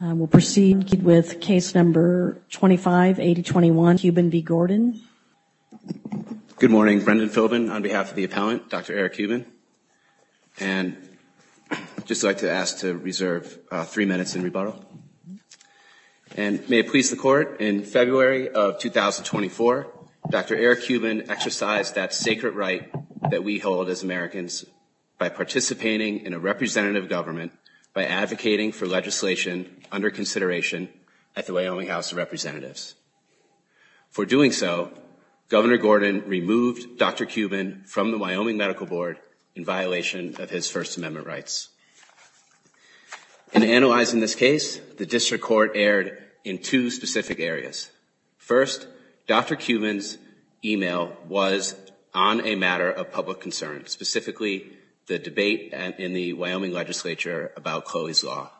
Good morning. Brendan Philbin on behalf of the appellant, Dr. Eric Cuban. And I'd just like to ask to reserve three minutes in rebuttal. And may it please the court, in February of 2024, Dr. Eric Cuban exercised that sacred right that we hold as Americans by participating in a representative government by advocating for legislation under consideration at the Wyoming House of Representatives. For doing so, Governor Gordon removed Dr. Cuban from the Wyoming Medical Board in violation of his First Amendment rights. In analyzing this case, the district court erred in two specific areas. First, Dr. Cuban's email was on a matter of public concern, specifically the debate in the Wyoming legislature about Cloey's Law.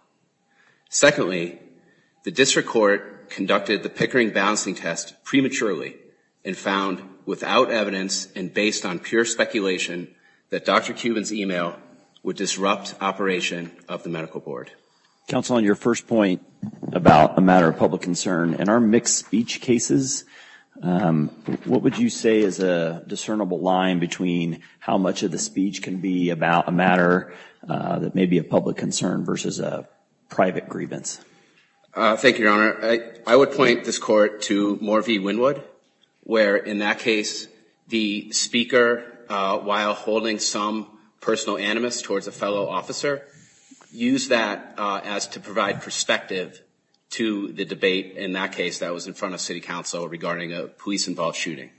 Secondly, the district court conducted the Pickering balancing test prematurely and found, without evidence and based on pure speculation, that Dr. Cuban's email would disrupt operation of the medical board. Counsel, on your first point about a matter of public concern, in our mixed speech cases, what would you say is a discernible line between how much of the speech can be about a matter that may be a public concern versus a private grievance? Thank you, Your Honor. I would point this court to Moore v. Wynwood, where in that case, the speaker, while holding some personal animus towards a fellow officer, used that as to provide perspective to the debate in that case that was in front of city council regarding a police-involved shooting.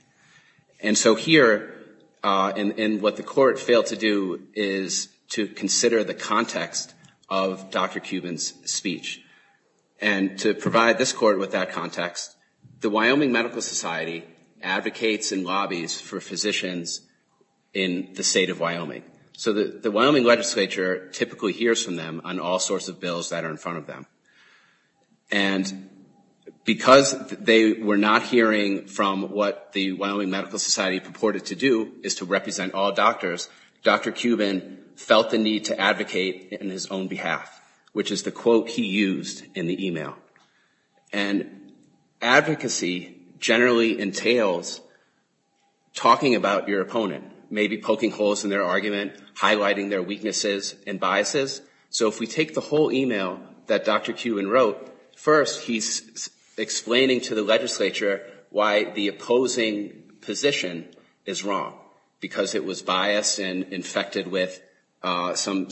And so here, and what the court failed to do is to consider the context of Dr. Cuban's speech. And to provide this court with that context, the Wyoming Medical Society advocates and lobbies for physicians in the state of Wyoming. So the Wyoming legislature typically hears from them on all sorts of bills that are in front of them. And because they were not hearing from what the Wyoming Medical Society purported to do, is to represent all doctors, Dr. Cuban felt the need to advocate in his own behalf, which is the quote he used in the email. And advocacy generally entails talking about your opponent, maybe poking holes in their argument, highlighting their weaknesses and biases. So if we take the whole email that Dr. Cuban wrote, first he's explaining to the legislature why the opposing position is wrong, because it was biased and infected with some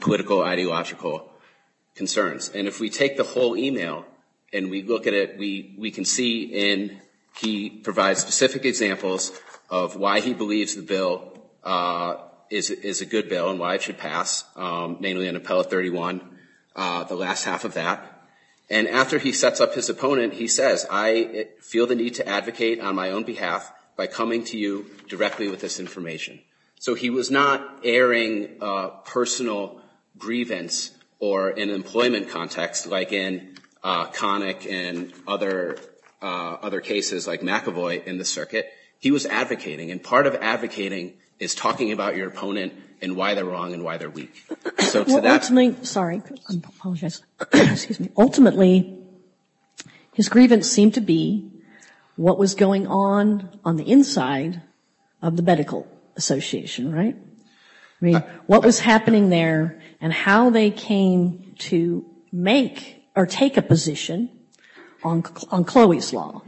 political ideological concerns. And if we take the whole email and we look at it, we can see he provides specific examples of why he believes the bill is a good bill and why it should pass, mainly on Appellate 31, the last half of that. And after he sets up his opponent, he says, I feel the need to advocate on my own behalf by coming to you directly with this information. So he was not airing personal grievance or an employment context like in Connick and other cases like McAvoy in the circuit. He was advocating. And part of advocating is talking about your opponent and why they're wrong and why they're weak. Ultimately, sorry, I apologize. Ultimately, his grievance seemed to be what was going on on the inside of the medical association, right? I mean, what was happening there and how they came to make or take a position on Chloe's law.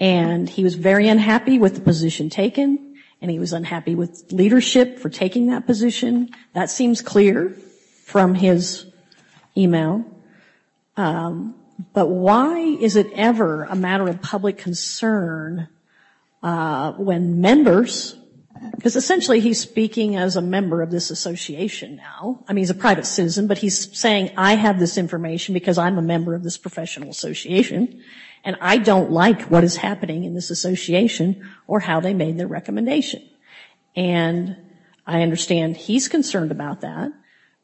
And he was very unhappy with the position taken and he was unhappy with leadership for taking that position. That seems clear from his email. But why is it ever a matter of public concern when members, because essentially he's speaking as a member of this association now, I mean, he's a private citizen, but he's saying I have this information because I'm a member of this professional association. And I don't like what is happening in this association or how they made their recommendation. And I understand he's concerned about that.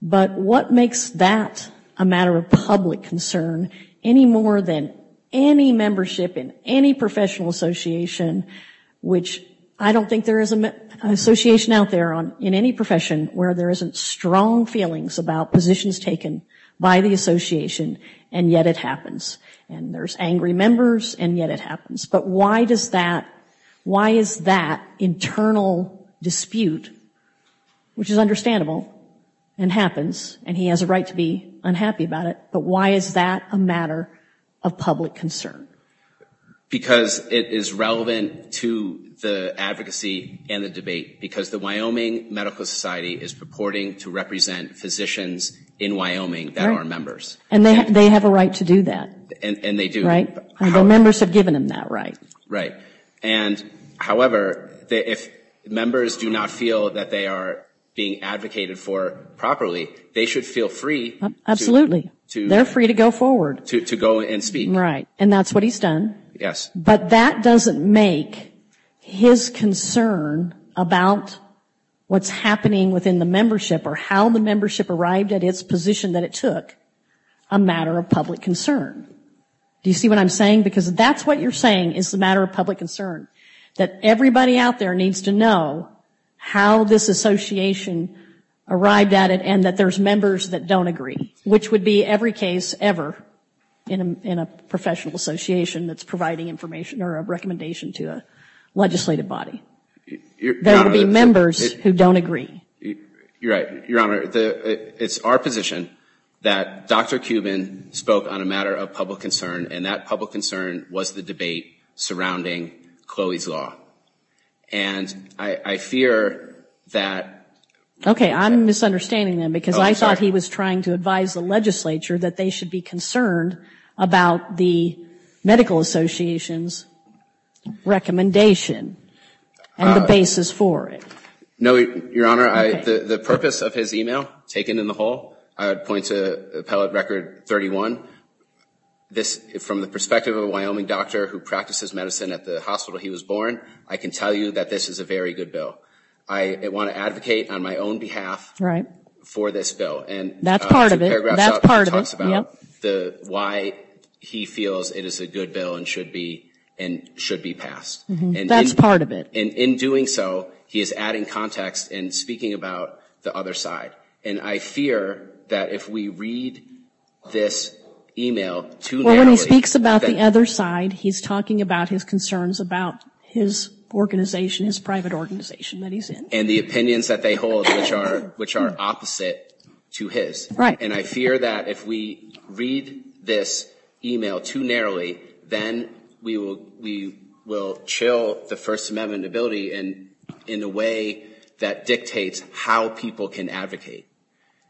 But what makes that a matter of public concern any more than any membership in any professional association, which I don't think there is an association out there in any profession where there isn't strong feelings about positions taken by the association and yet it happens. There's angry members and yet it happens. But why does that, why is that internal dispute, which is understandable and happens and he has a right to be unhappy about it, but why is that a matter of public concern? Because it is relevant to the advocacy and the debate because the Wyoming Medical Society is purporting to represent physicians in Wyoming that are members. And they have a right to do that. And they do. Right. The members have given him that right. Right. And however, if members do not feel that they are being advocated for properly, they should feel free. Absolutely. They're free to go forward. To go and speak. Right. And that's what he's done. Yes. But that doesn't make his concern about what's happening within the membership or how the membership arrived at its position that it took a matter of public concern. Do you see what I'm saying? Because that's what you're saying is the matter of public concern. That everybody out there needs to know how this association arrived at it and that there's members that don't agree. Which would be every case ever in a professional association that's providing information or a recommendation to a legislative body. There would be members who don't agree. You're right. Your Honor, it's our position that Dr. Cuban spoke on a matter of public concern. And that public concern was the debate surrounding Chloe's Law. And I fear that... Okay. I'm misunderstanding then. Because I thought he was trying to advise the legislature that they should be concerned about the Medical Association's recommendation and the basis for it. No, Your Honor. The purpose of his email, taken in the whole, I would point to Appellate Record 31. From the perspective of a Wyoming doctor who practices medicine at the hospital he was born, I can tell you that this is a very good bill. I want to advocate on my own behalf for this bill. That's part of it. That's part of it. And the paragraph talks about why he feels it is a good bill and should be passed. That's part of it. And in doing so, he is adding context and speaking about the other side. And I fear that if we read this email too narrowly... Well, when he speaks about the other side, he's talking about his concerns about his organization, his private organization that he's in. And the opinions that they hold, which are opposite to his. Right. And I fear that if we read this email too narrowly, then we will chill the First Amendment ability in a way that dictates how people can advocate.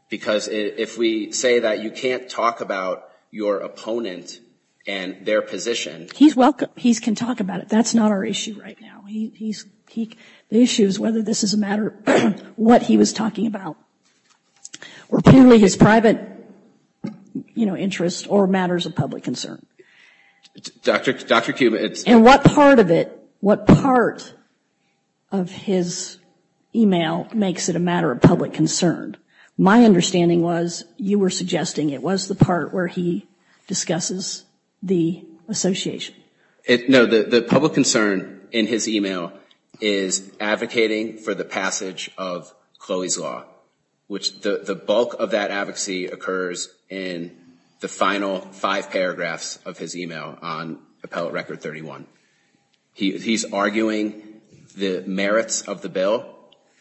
Because if we say that you can't talk about your opponent and their position... He's welcome. He can talk about it. That's not our issue right now. The issue is whether this is a matter of what he was talking about. Or purely his private interest or matters of public concern. Dr. Kuba, it's... And what part of it, what part of his email makes it a matter of public concern? My understanding was you were suggesting it was the part where he discusses the association. No, the public concern in his email is advocating for the passage of Chloe's Law. Which the bulk of that advocacy occurs in the final five paragraphs of his email on Appellate Record 31. He's arguing the merits of the bill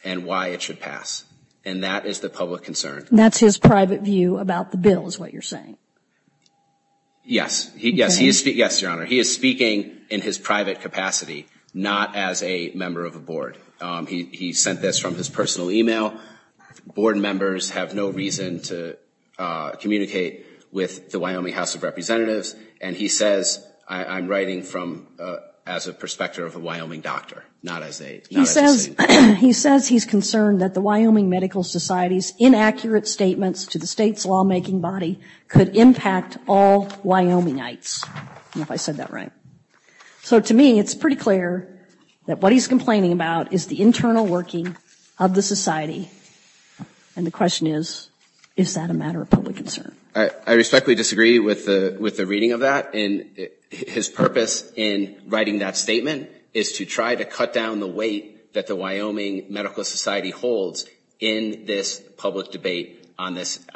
and why it should pass. And that is the public concern. That's his private view about the bill is what you're saying? Yes. Yes, Your Honor. He is speaking in his private capacity. Not as a member of a board. He sent this from his personal email. Board members have no reason to communicate with the Wyoming House of Representatives. And he says I'm writing as a prospector of a Wyoming doctor. He says he's concerned that the Wyoming Medical Society's inaccurate statements to the state's lawmaking body could impact all Wyomingites. I don't know if I said that right. So to me, it's pretty clear that what he's complaining about is the internal working of the society. And the question is, is that a matter of public concern? I respectfully disagree with the reading of that. His purpose in writing that statement is to try to cut down the weight that the Wyoming Medical Society holds in this public debate on this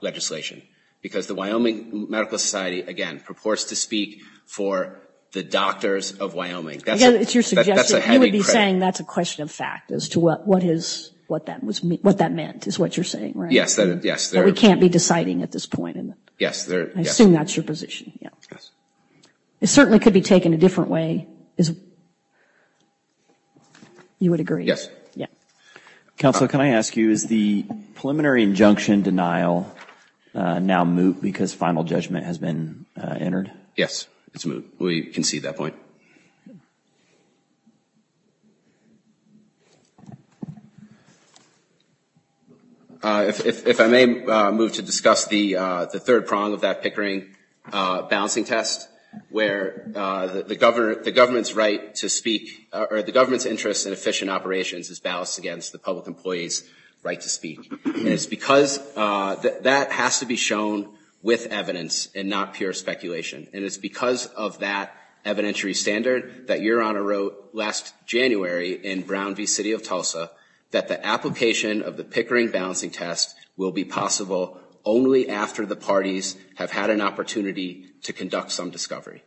legislation. Because the Wyoming Medical Society, again, purports to speak for the doctors of Wyoming. Again, it's your suggestion. You would be saying that's a question of fact as to what that meant is what you're saying, right? Yes. That we can't be deciding at this point. Yes. I assume that's your position. Yes. It certainly could be taken a different way. You would agree? Yes. Yeah. Counsel, can I ask you, is the preliminary injunction denial now moot because final judgment has been entered? Yes. It's moot. We concede that point. If I may move to discuss the third prong of that Pickering balancing test, where the government's right to speak, or the government's interest in efficient operations is balanced against the public employee's right to speak. And it's because that has to be shown with evidence and not pure speculation. And it's because of that evidentiary standard that Your Honor wrote last January in Brown v. City of Tulsa that the application of the Pickering balancing test will be possible only after the parties have had an opportunity to conduct some discovery.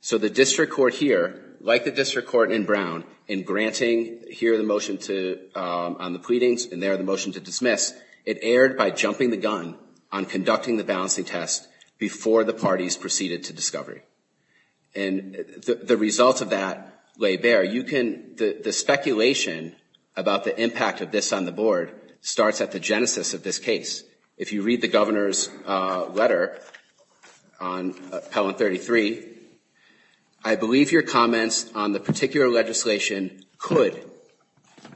So the district court here, like the district court in Brown, in granting here the motion on the pleadings and there the And the results of that lay bare. The speculation about the impact of this on the board starts at the genesis of this case. If you read the governor's letter on Appellant 33, I believe your comments on the particular legislation could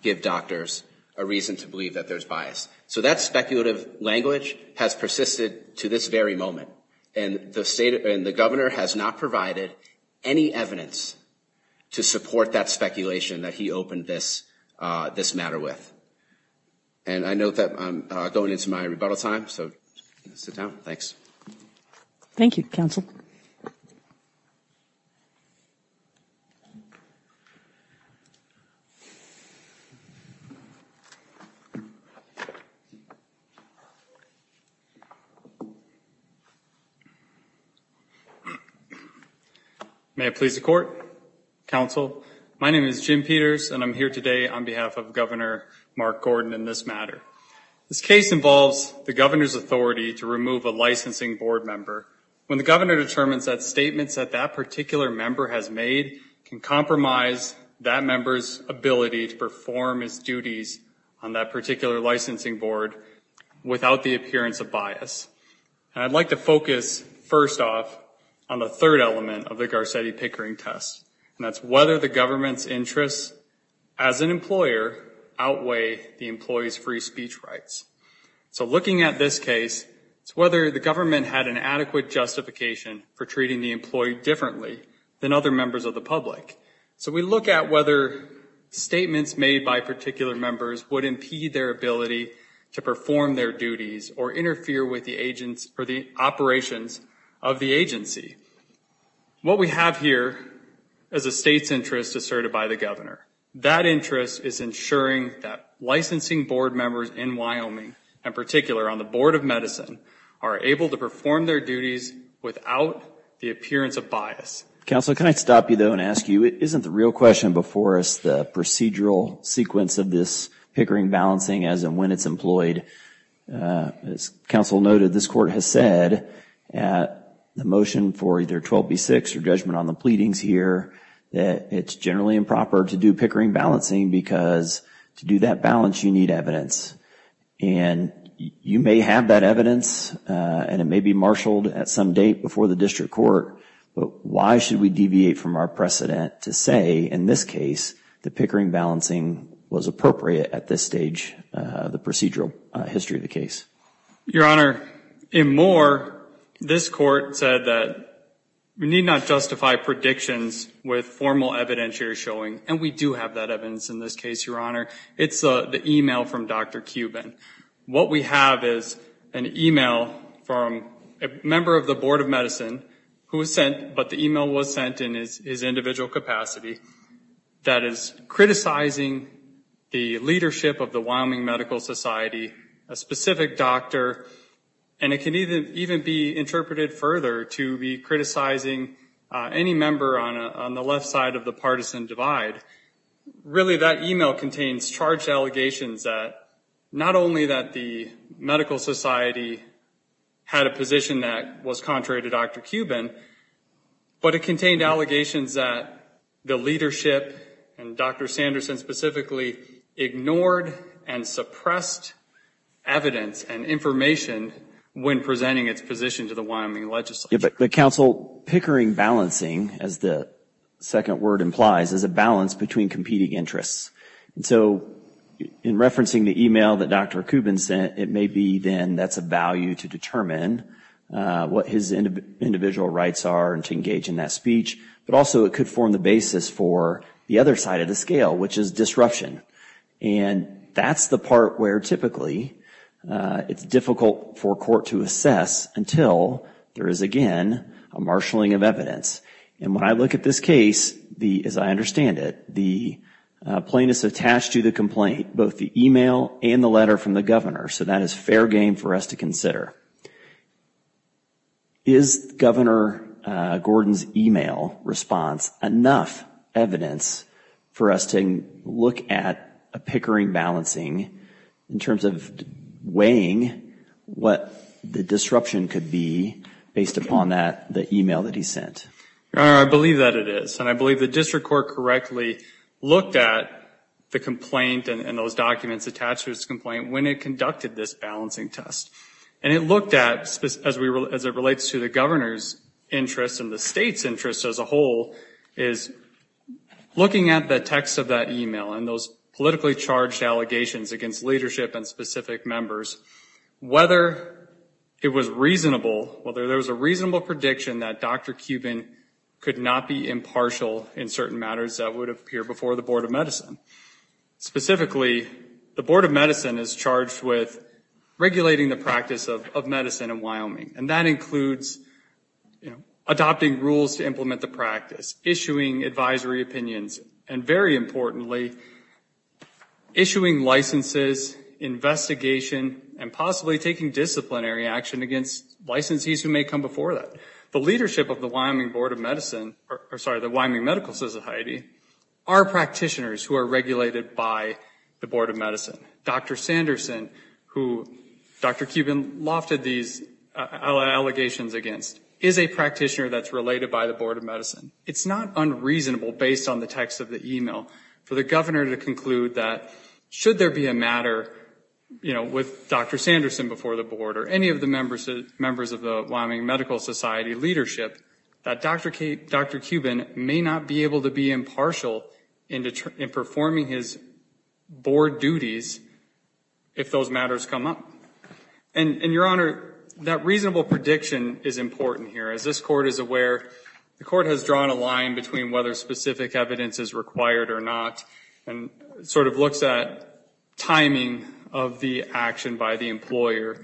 give doctors a reason to believe that there's bias. So that speculative language has persisted to this very moment. And the state and the governor has not provided any evidence to support that speculation that he opened this matter with. And I note that I'm going into my rebuttal time, so sit down. Thanks. Thank you, Counsel. May I please the court? Counsel, my name is Jim Peters and I'm here today on behalf of Governor Mark Gordon in this matter. This case involves the governor's authority to remove a licensing board member. When the governor determines that statements that that particular member has made can compromise that member's ability to perform his duties on that particular licensing board without the appearance of bias. And I'd like to focus first off on the third element of the Garcetti Pickering test. And that's whether the government's interests as an employer outweigh the employee's free speech rights. So looking at this case, it's whether the government had an adequate justification for treating the employee differently than other members of the public. So we look at whether statements made by particular members would impede their ability to perform their duties or interfere with the operations of the agency. What we have here is a state's interest asserted by the governor. That interest is ensuring that licensing board members in Wyoming, in particular on the Board of Medicine, are able to perform their duties without the appearance of bias. Counsel, can I stop you though and ask you, isn't the real question before us the procedural sequence of this Pickering balancing as in when it's employed? As counsel noted, this court has said at the motion for either 12B-6 or judgment on the pleadings here, that it's generally improper to do Pickering balancing because to do that balance you need evidence. And you may have that evidence and it may be marshaled at some date before the district court, but why should we deviate from our precedent to say in this case that Pickering balancing was appropriate at this stage of the procedural history of the case? Your Honor, in Moore, this court said that we need not justify predictions with formal evidence here showing, and we do have that evidence in this case, Your Honor. It's the email from Dr. Cuban. What we have is an email from a member of the Board of Medicine who was sent, but the email was sent in his individual capacity that is criticizing the leadership of the Wyoming Medical Society, a specific doctor, and it can even be interpreted further to be criticizing any member on the left side of the partisan divide. Really that email contains charged allegations that not only that the medical society had a position that was contrary to Dr. Cuban, but it contained allegations that the leadership, and Dr. Sanderson specifically, ignored and suppressed evidence and information when presenting its position to the Wyoming legislature. But, Counsel, Pickering balancing, as the second word implies, is a balance between competing interests. So in referencing the email that Dr. Cuban sent, it may be then that's a value to determine what his individual rights are and to engage in that speech, but also it could form the basis for the other side of the scale, which is disruption. And that's the part where typically it's difficult for court to assess until there is, again, a marshalling of evidence. And when I look at this case, as I understand it, the plaintiff's attached to the complaint, both the email and the letter from the governor, so that is fair game for us to consider. Is Governor Gordon's email response enough evidence for us to look at a Pickering balancing in terms of weighing what the disruption could be based upon that email that he sent? Your Honor, I believe that it is, and I believe the district court correctly looked at the complaint and those documents attached to his complaint when it conducted this balancing test. And it looked at, as it relates to the governor's interest and the state's interest as a whole, is looking at the text of that email and those politically charged allegations against leadership and specific members, whether it was reasonable, whether there was a reasonable prediction that Dr. Cuban could not be impartial in certain matters that would appear before the Board of Medicine. Specifically, the Board of Medicine is charged with regulating the practice of medicine in Wyoming, and that includes adopting rules to implement the practice, issuing advisory opinions, and very importantly, issuing licenses, investigation, and possibly taking disciplinary action against licensees who may come before that. The leadership of the Wyoming Board of Medicine, or sorry, the Wyoming Medical Society, are practitioners who are regulated by the Board of Medicine. Dr. Sanderson, who Dr. Cuban lofted these allegations against, is a practitioner that's related by the Board of Medicine. It's not unreasonable, based on the text of the email, for the governor to conclude that should there be a matter, you know, with Dr. Sanderson before the Board or any of the members of the Wyoming Medical Society leadership, that Dr. Cuban may not be able to be impartial in performing his Board duties if those matters come up. And, Your Honor, that reasonable prediction is important here. As this Court is aware, the Court has drawn a line between whether specific evidence is required or not and sort of looks at timing of the action by the employer,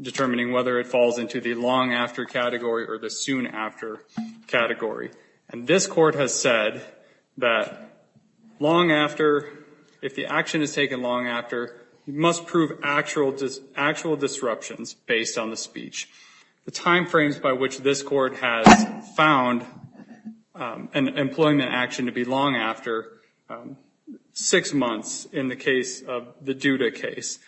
determining whether it falls into the long after category or the soon after category. And this Court has said that long after, if the action is taken long after, you must prove actual disruptions based on the speech. The time frames by which this Court has found an employment action to be long after, six months in the case of the Duda case.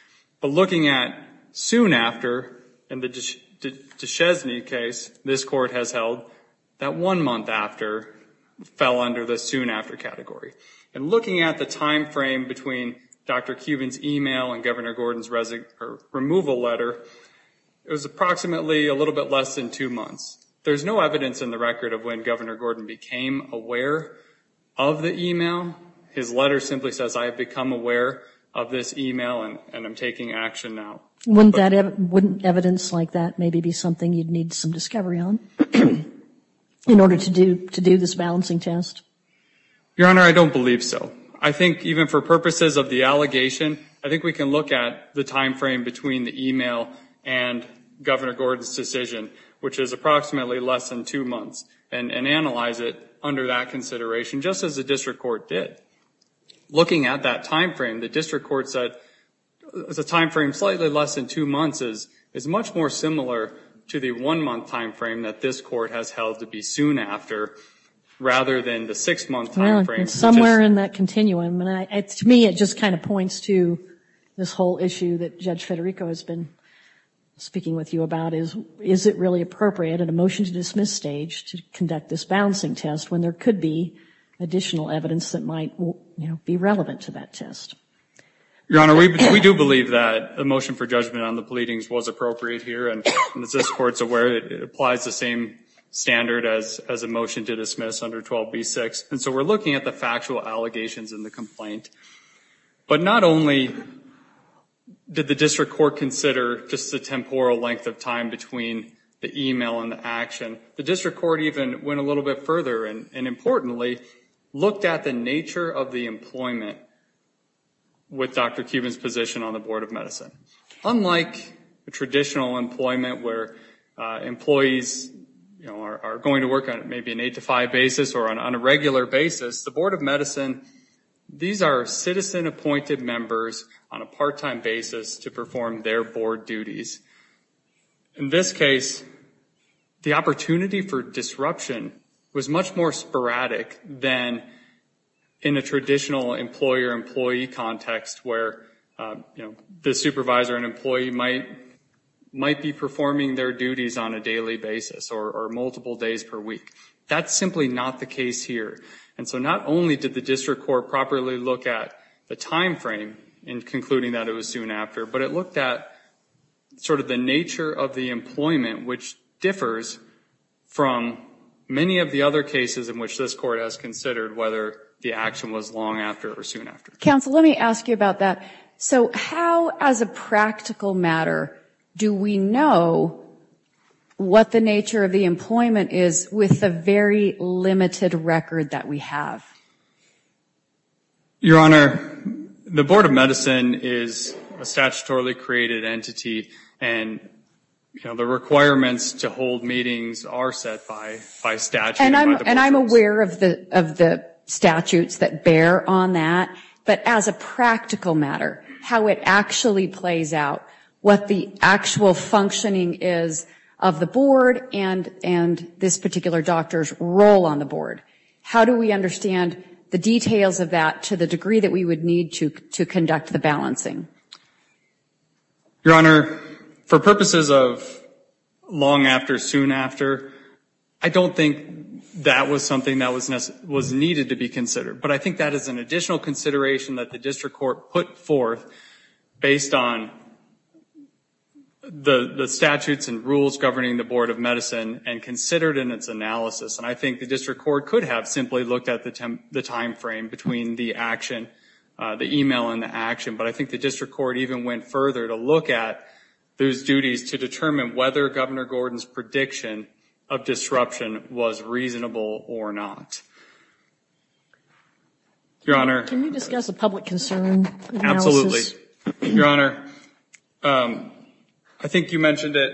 But looking at soon after, in the Deshesne case this Court has held, that one month after fell under the soon after category. And looking at the time frame between Dr. Cuban's email and Governor Gordon's removal letter, it was approximately a little bit less than two months. There's no evidence in the record of when Governor Gordon became aware of the email. His letter simply says, I have become aware of this email and I'm taking action now. Wouldn't evidence like that maybe be something you'd need some discovery on in order to do this balancing test? Your Honor, I don't believe so. I think even for purposes of the allegation, I think we can look at the time frame between the email and Governor Gordon's decision, which is approximately less than two months, and analyze it under that consideration just as the District Court did. Looking at that time frame, the District Court said the time frame slightly less than two months is much more similar to the one month time frame that this Court has held to be soon after rather than the six month time frame. Somewhere in that continuum. To me, it just kind of points to this whole issue that Judge Federico has been speaking with you about. Is it really appropriate in a motion to dismiss stage to conduct this balancing test when there could be additional evidence that might be relevant to that test? Your Honor, we do believe that the motion for judgment on the pleadings was appropriate here. And as this Court is aware, it applies the same standard as a motion to dismiss under 12b-6. And so we're looking at the factual allegations in the complaint. But not only did the District Court consider just the temporal length of time between the email and the action, the District Court even went a little bit further and importantly looked at the nature of the employment with Dr. Cuban's position on the Board of Medicine. Unlike a traditional employment where employees are going to work on maybe an eight to five basis or on a regular basis, the Board of Medicine, these are citizen-appointed members on a part-time basis to perform their board duties. In this case, the opportunity for disruption was much more sporadic than in a traditional employer-employee context where the supervisor and employee might be performing their duties on a daily basis or multiple days per week. That's simply not the case here. And so not only did the District Court properly look at the time frame in concluding that it was soon after, but it looked at sort of the nature of the employment, which differs from many of the other cases in which this Court has considered whether the action was long after or soon after. Counsel, let me ask you about that. So how, as a practical matter, do we know what the nature of the employment is with the very limited record that we have? Your Honor, the Board of Medicine is a statutorily created entity, and the requirements to hold meetings are set by statute. And I'm aware of the statutes that bear on that, but as a practical matter, how it actually plays out, what the actual functioning is of the Board and this particular doctor's role on the Board. How do we understand the details of that to the degree that we would need to conduct the balancing? Your Honor, for purposes of long after, soon after, I don't think that was something that was needed to be considered. But I think that is an additional consideration that the District Court put forth based on the statutes and rules governing the Board of Medicine and considered in its analysis. And I think the District Court could have simply looked at the timeframe between the action, the email and the action. But I think the District Court even went further to look at those duties to determine whether Governor Gordon's prediction of disruption was reasonable or not. Your Honor. Can you discuss a public concern analysis? Your Honor, I think you mentioned it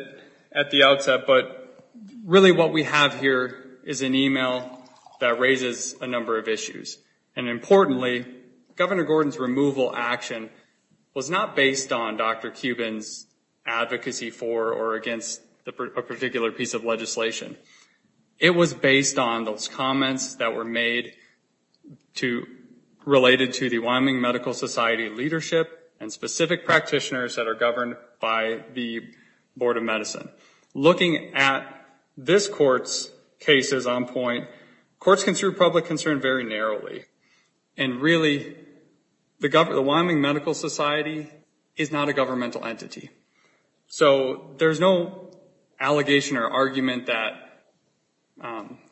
at the outset, but really what we have here is an email that raises a number of issues. And importantly, Governor Gordon's removal action was not based on Dr. Cuban's advocacy for or against a particular piece of legislation. It was based on those comments that were made related to the Wyoming Medical Society leadership and specific practitioners that are governed by the Board of Medicine. Looking at this Court's cases on point, Courts consider public concern very narrowly. And really, the Wyoming Medical Society is not a governmental entity. So there's no allegation or argument that,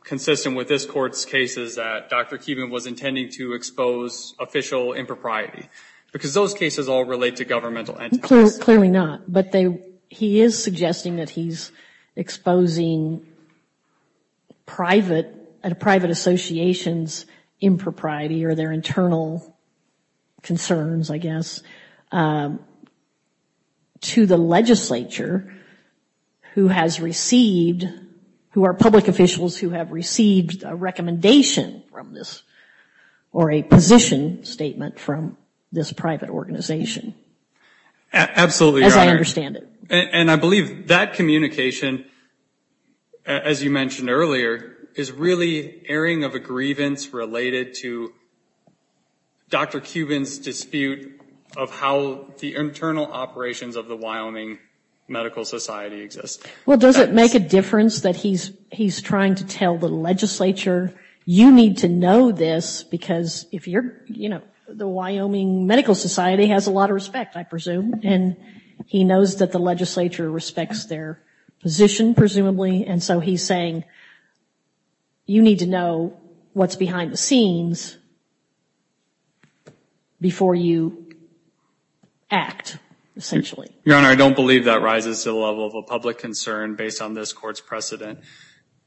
consistent with this Court's cases, that Dr. Cuban was intending to expose official impropriety. Because those cases all relate to governmental entities. Clearly not, but he is suggesting that he's exposing private associations' impropriety or their internal concerns, I guess, to the legislature who has received, who are public officials who have received a recommendation from this, or a position statement from this private organization. Absolutely, Your Honor. As I understand it. And I believe that communication, as you mentioned earlier, is really airing of a grievance related to Dr. Cuban's dispute of how the internal operations of the Wyoming Medical Society exist. Well, does it make a difference that he's trying to tell the legislature, you need to know this because if you're, you know, the Wyoming Medical Society has a lot of respect, I presume. And he knows that the legislature respects their position, presumably. And so he's saying, you need to know what's behind the scenes before you act, essentially. Your Honor, I don't believe that rises to the level of a public concern based on this Court's precedent.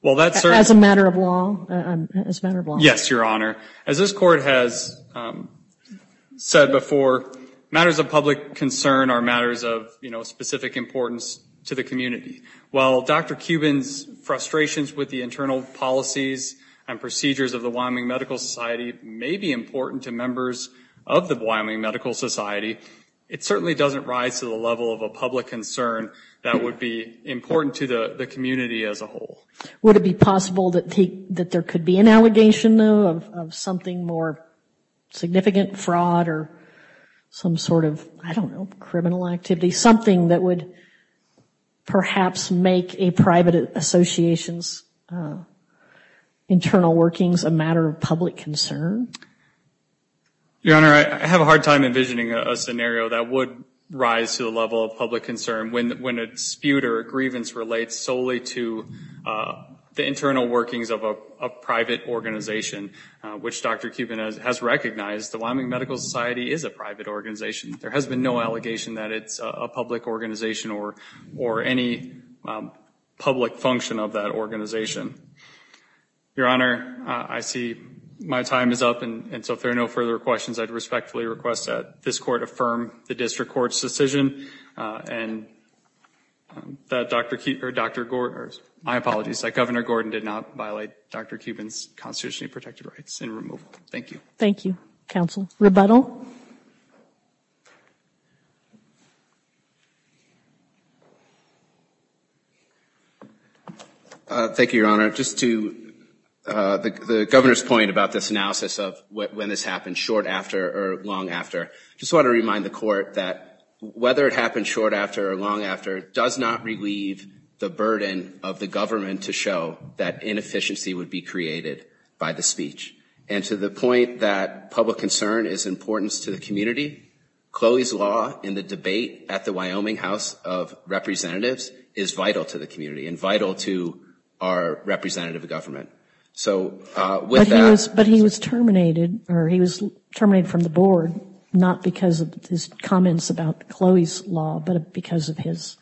As a matter of law, as a matter of law. Yes, Your Honor. As this Court has said before, matters of public concern are matters of, you know, specific importance to the community. While Dr. Cuban's frustrations with the internal policies and procedures of the Wyoming Medical Society may be important to members of the Wyoming Medical Society, it certainly doesn't rise to the level of a public concern that would be important to the community as a whole. Would it be possible that there could be an allegation, though, of something more significant, fraud or some sort of, I don't know, criminal activity, something that would perhaps make a private association's internal workings a matter of public concern? Your Honor, I have a hard time envisioning a scenario that would rise to the level of public concern when a dispute or a grievance relates solely to the internal workings of a private organization, which Dr. Cuban has recognized. The Wyoming Medical Society is a private organization. There has been no allegation that it's a public organization or any public function of that organization. Your Honor, I see my time is up, and so if there are no further questions, I respectfully request that this Court affirm the District Court's decision and that Governor Gordon did not violate Dr. Cuban's constitutionally protected rights in removal. Thank you. Thank you, Counsel. Rebuttal. Thank you, Your Honor. Just to the Governor's point about this analysis of when this happened, short after or long after, I just want to remind the Court that whether it happened short after or long after does not relieve the burden of the government to show that inefficiency would be created by the speech. And to the point that public concern is important to the community, Chloe's law in the debate at the Wyoming House of Representatives is vital to the community and vital to our representative government. But he was terminated from the board, not because of his comments about Chloe's law, but because of his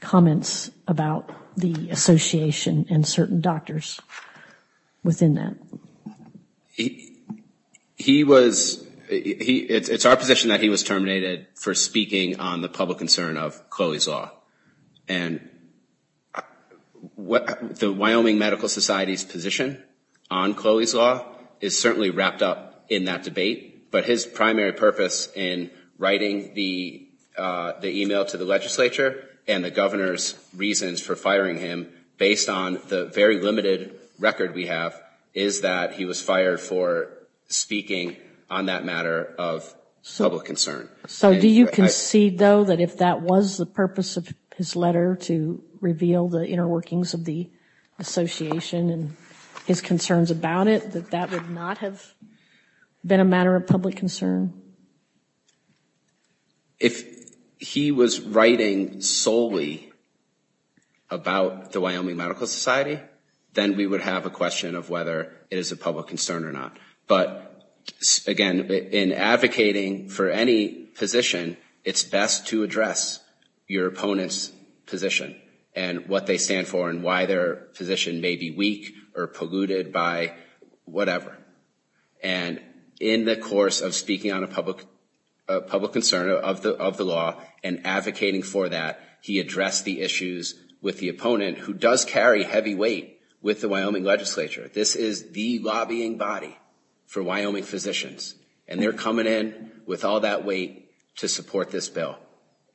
comments about the association and certain doctors within that. It's our position that he was terminated for speaking on the public concern of Chloe's law. And the Wyoming Medical Society's position on Chloe's law is certainly wrapped up in that debate, but his primary purpose in writing the email to the legislature and the Governor's reasons for firing him, based on the very limited record we have, is that he was fired for speaking on that matter of public concern. So do you concede, though, that if that was the purpose of his letter to reveal the inner workings of the association and his concerns about it, that that would not have been a matter of public concern? If he was writing solely about the Wyoming Medical Society, then we would have a question of whether it is a public concern or not. But, again, in advocating for any position, it's best to address your opponent's position and what they stand for and why their position may be weak or polluted by whatever. And in the course of speaking on a public concern of the law and advocating for that, he addressed the issues with the opponent, who does carry heavy weight with the Wyoming legislature. This is the lobbying body for Wyoming physicians, and they're coming in with all that weight to support this bill.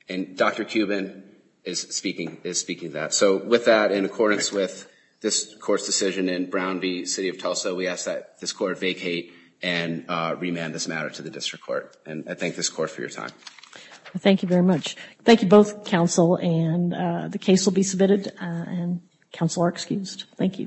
And Dr. Cuban is speaking to that. So with that, in accordance with this Court's decision in Brown v. City of Tulsa, we ask that this Court vacate and remand this matter to the District Court. And I thank this Court for your time. Thank you very much. Thank you both, Counsel, and the case will be submitted. Counsel are excused. Thank you.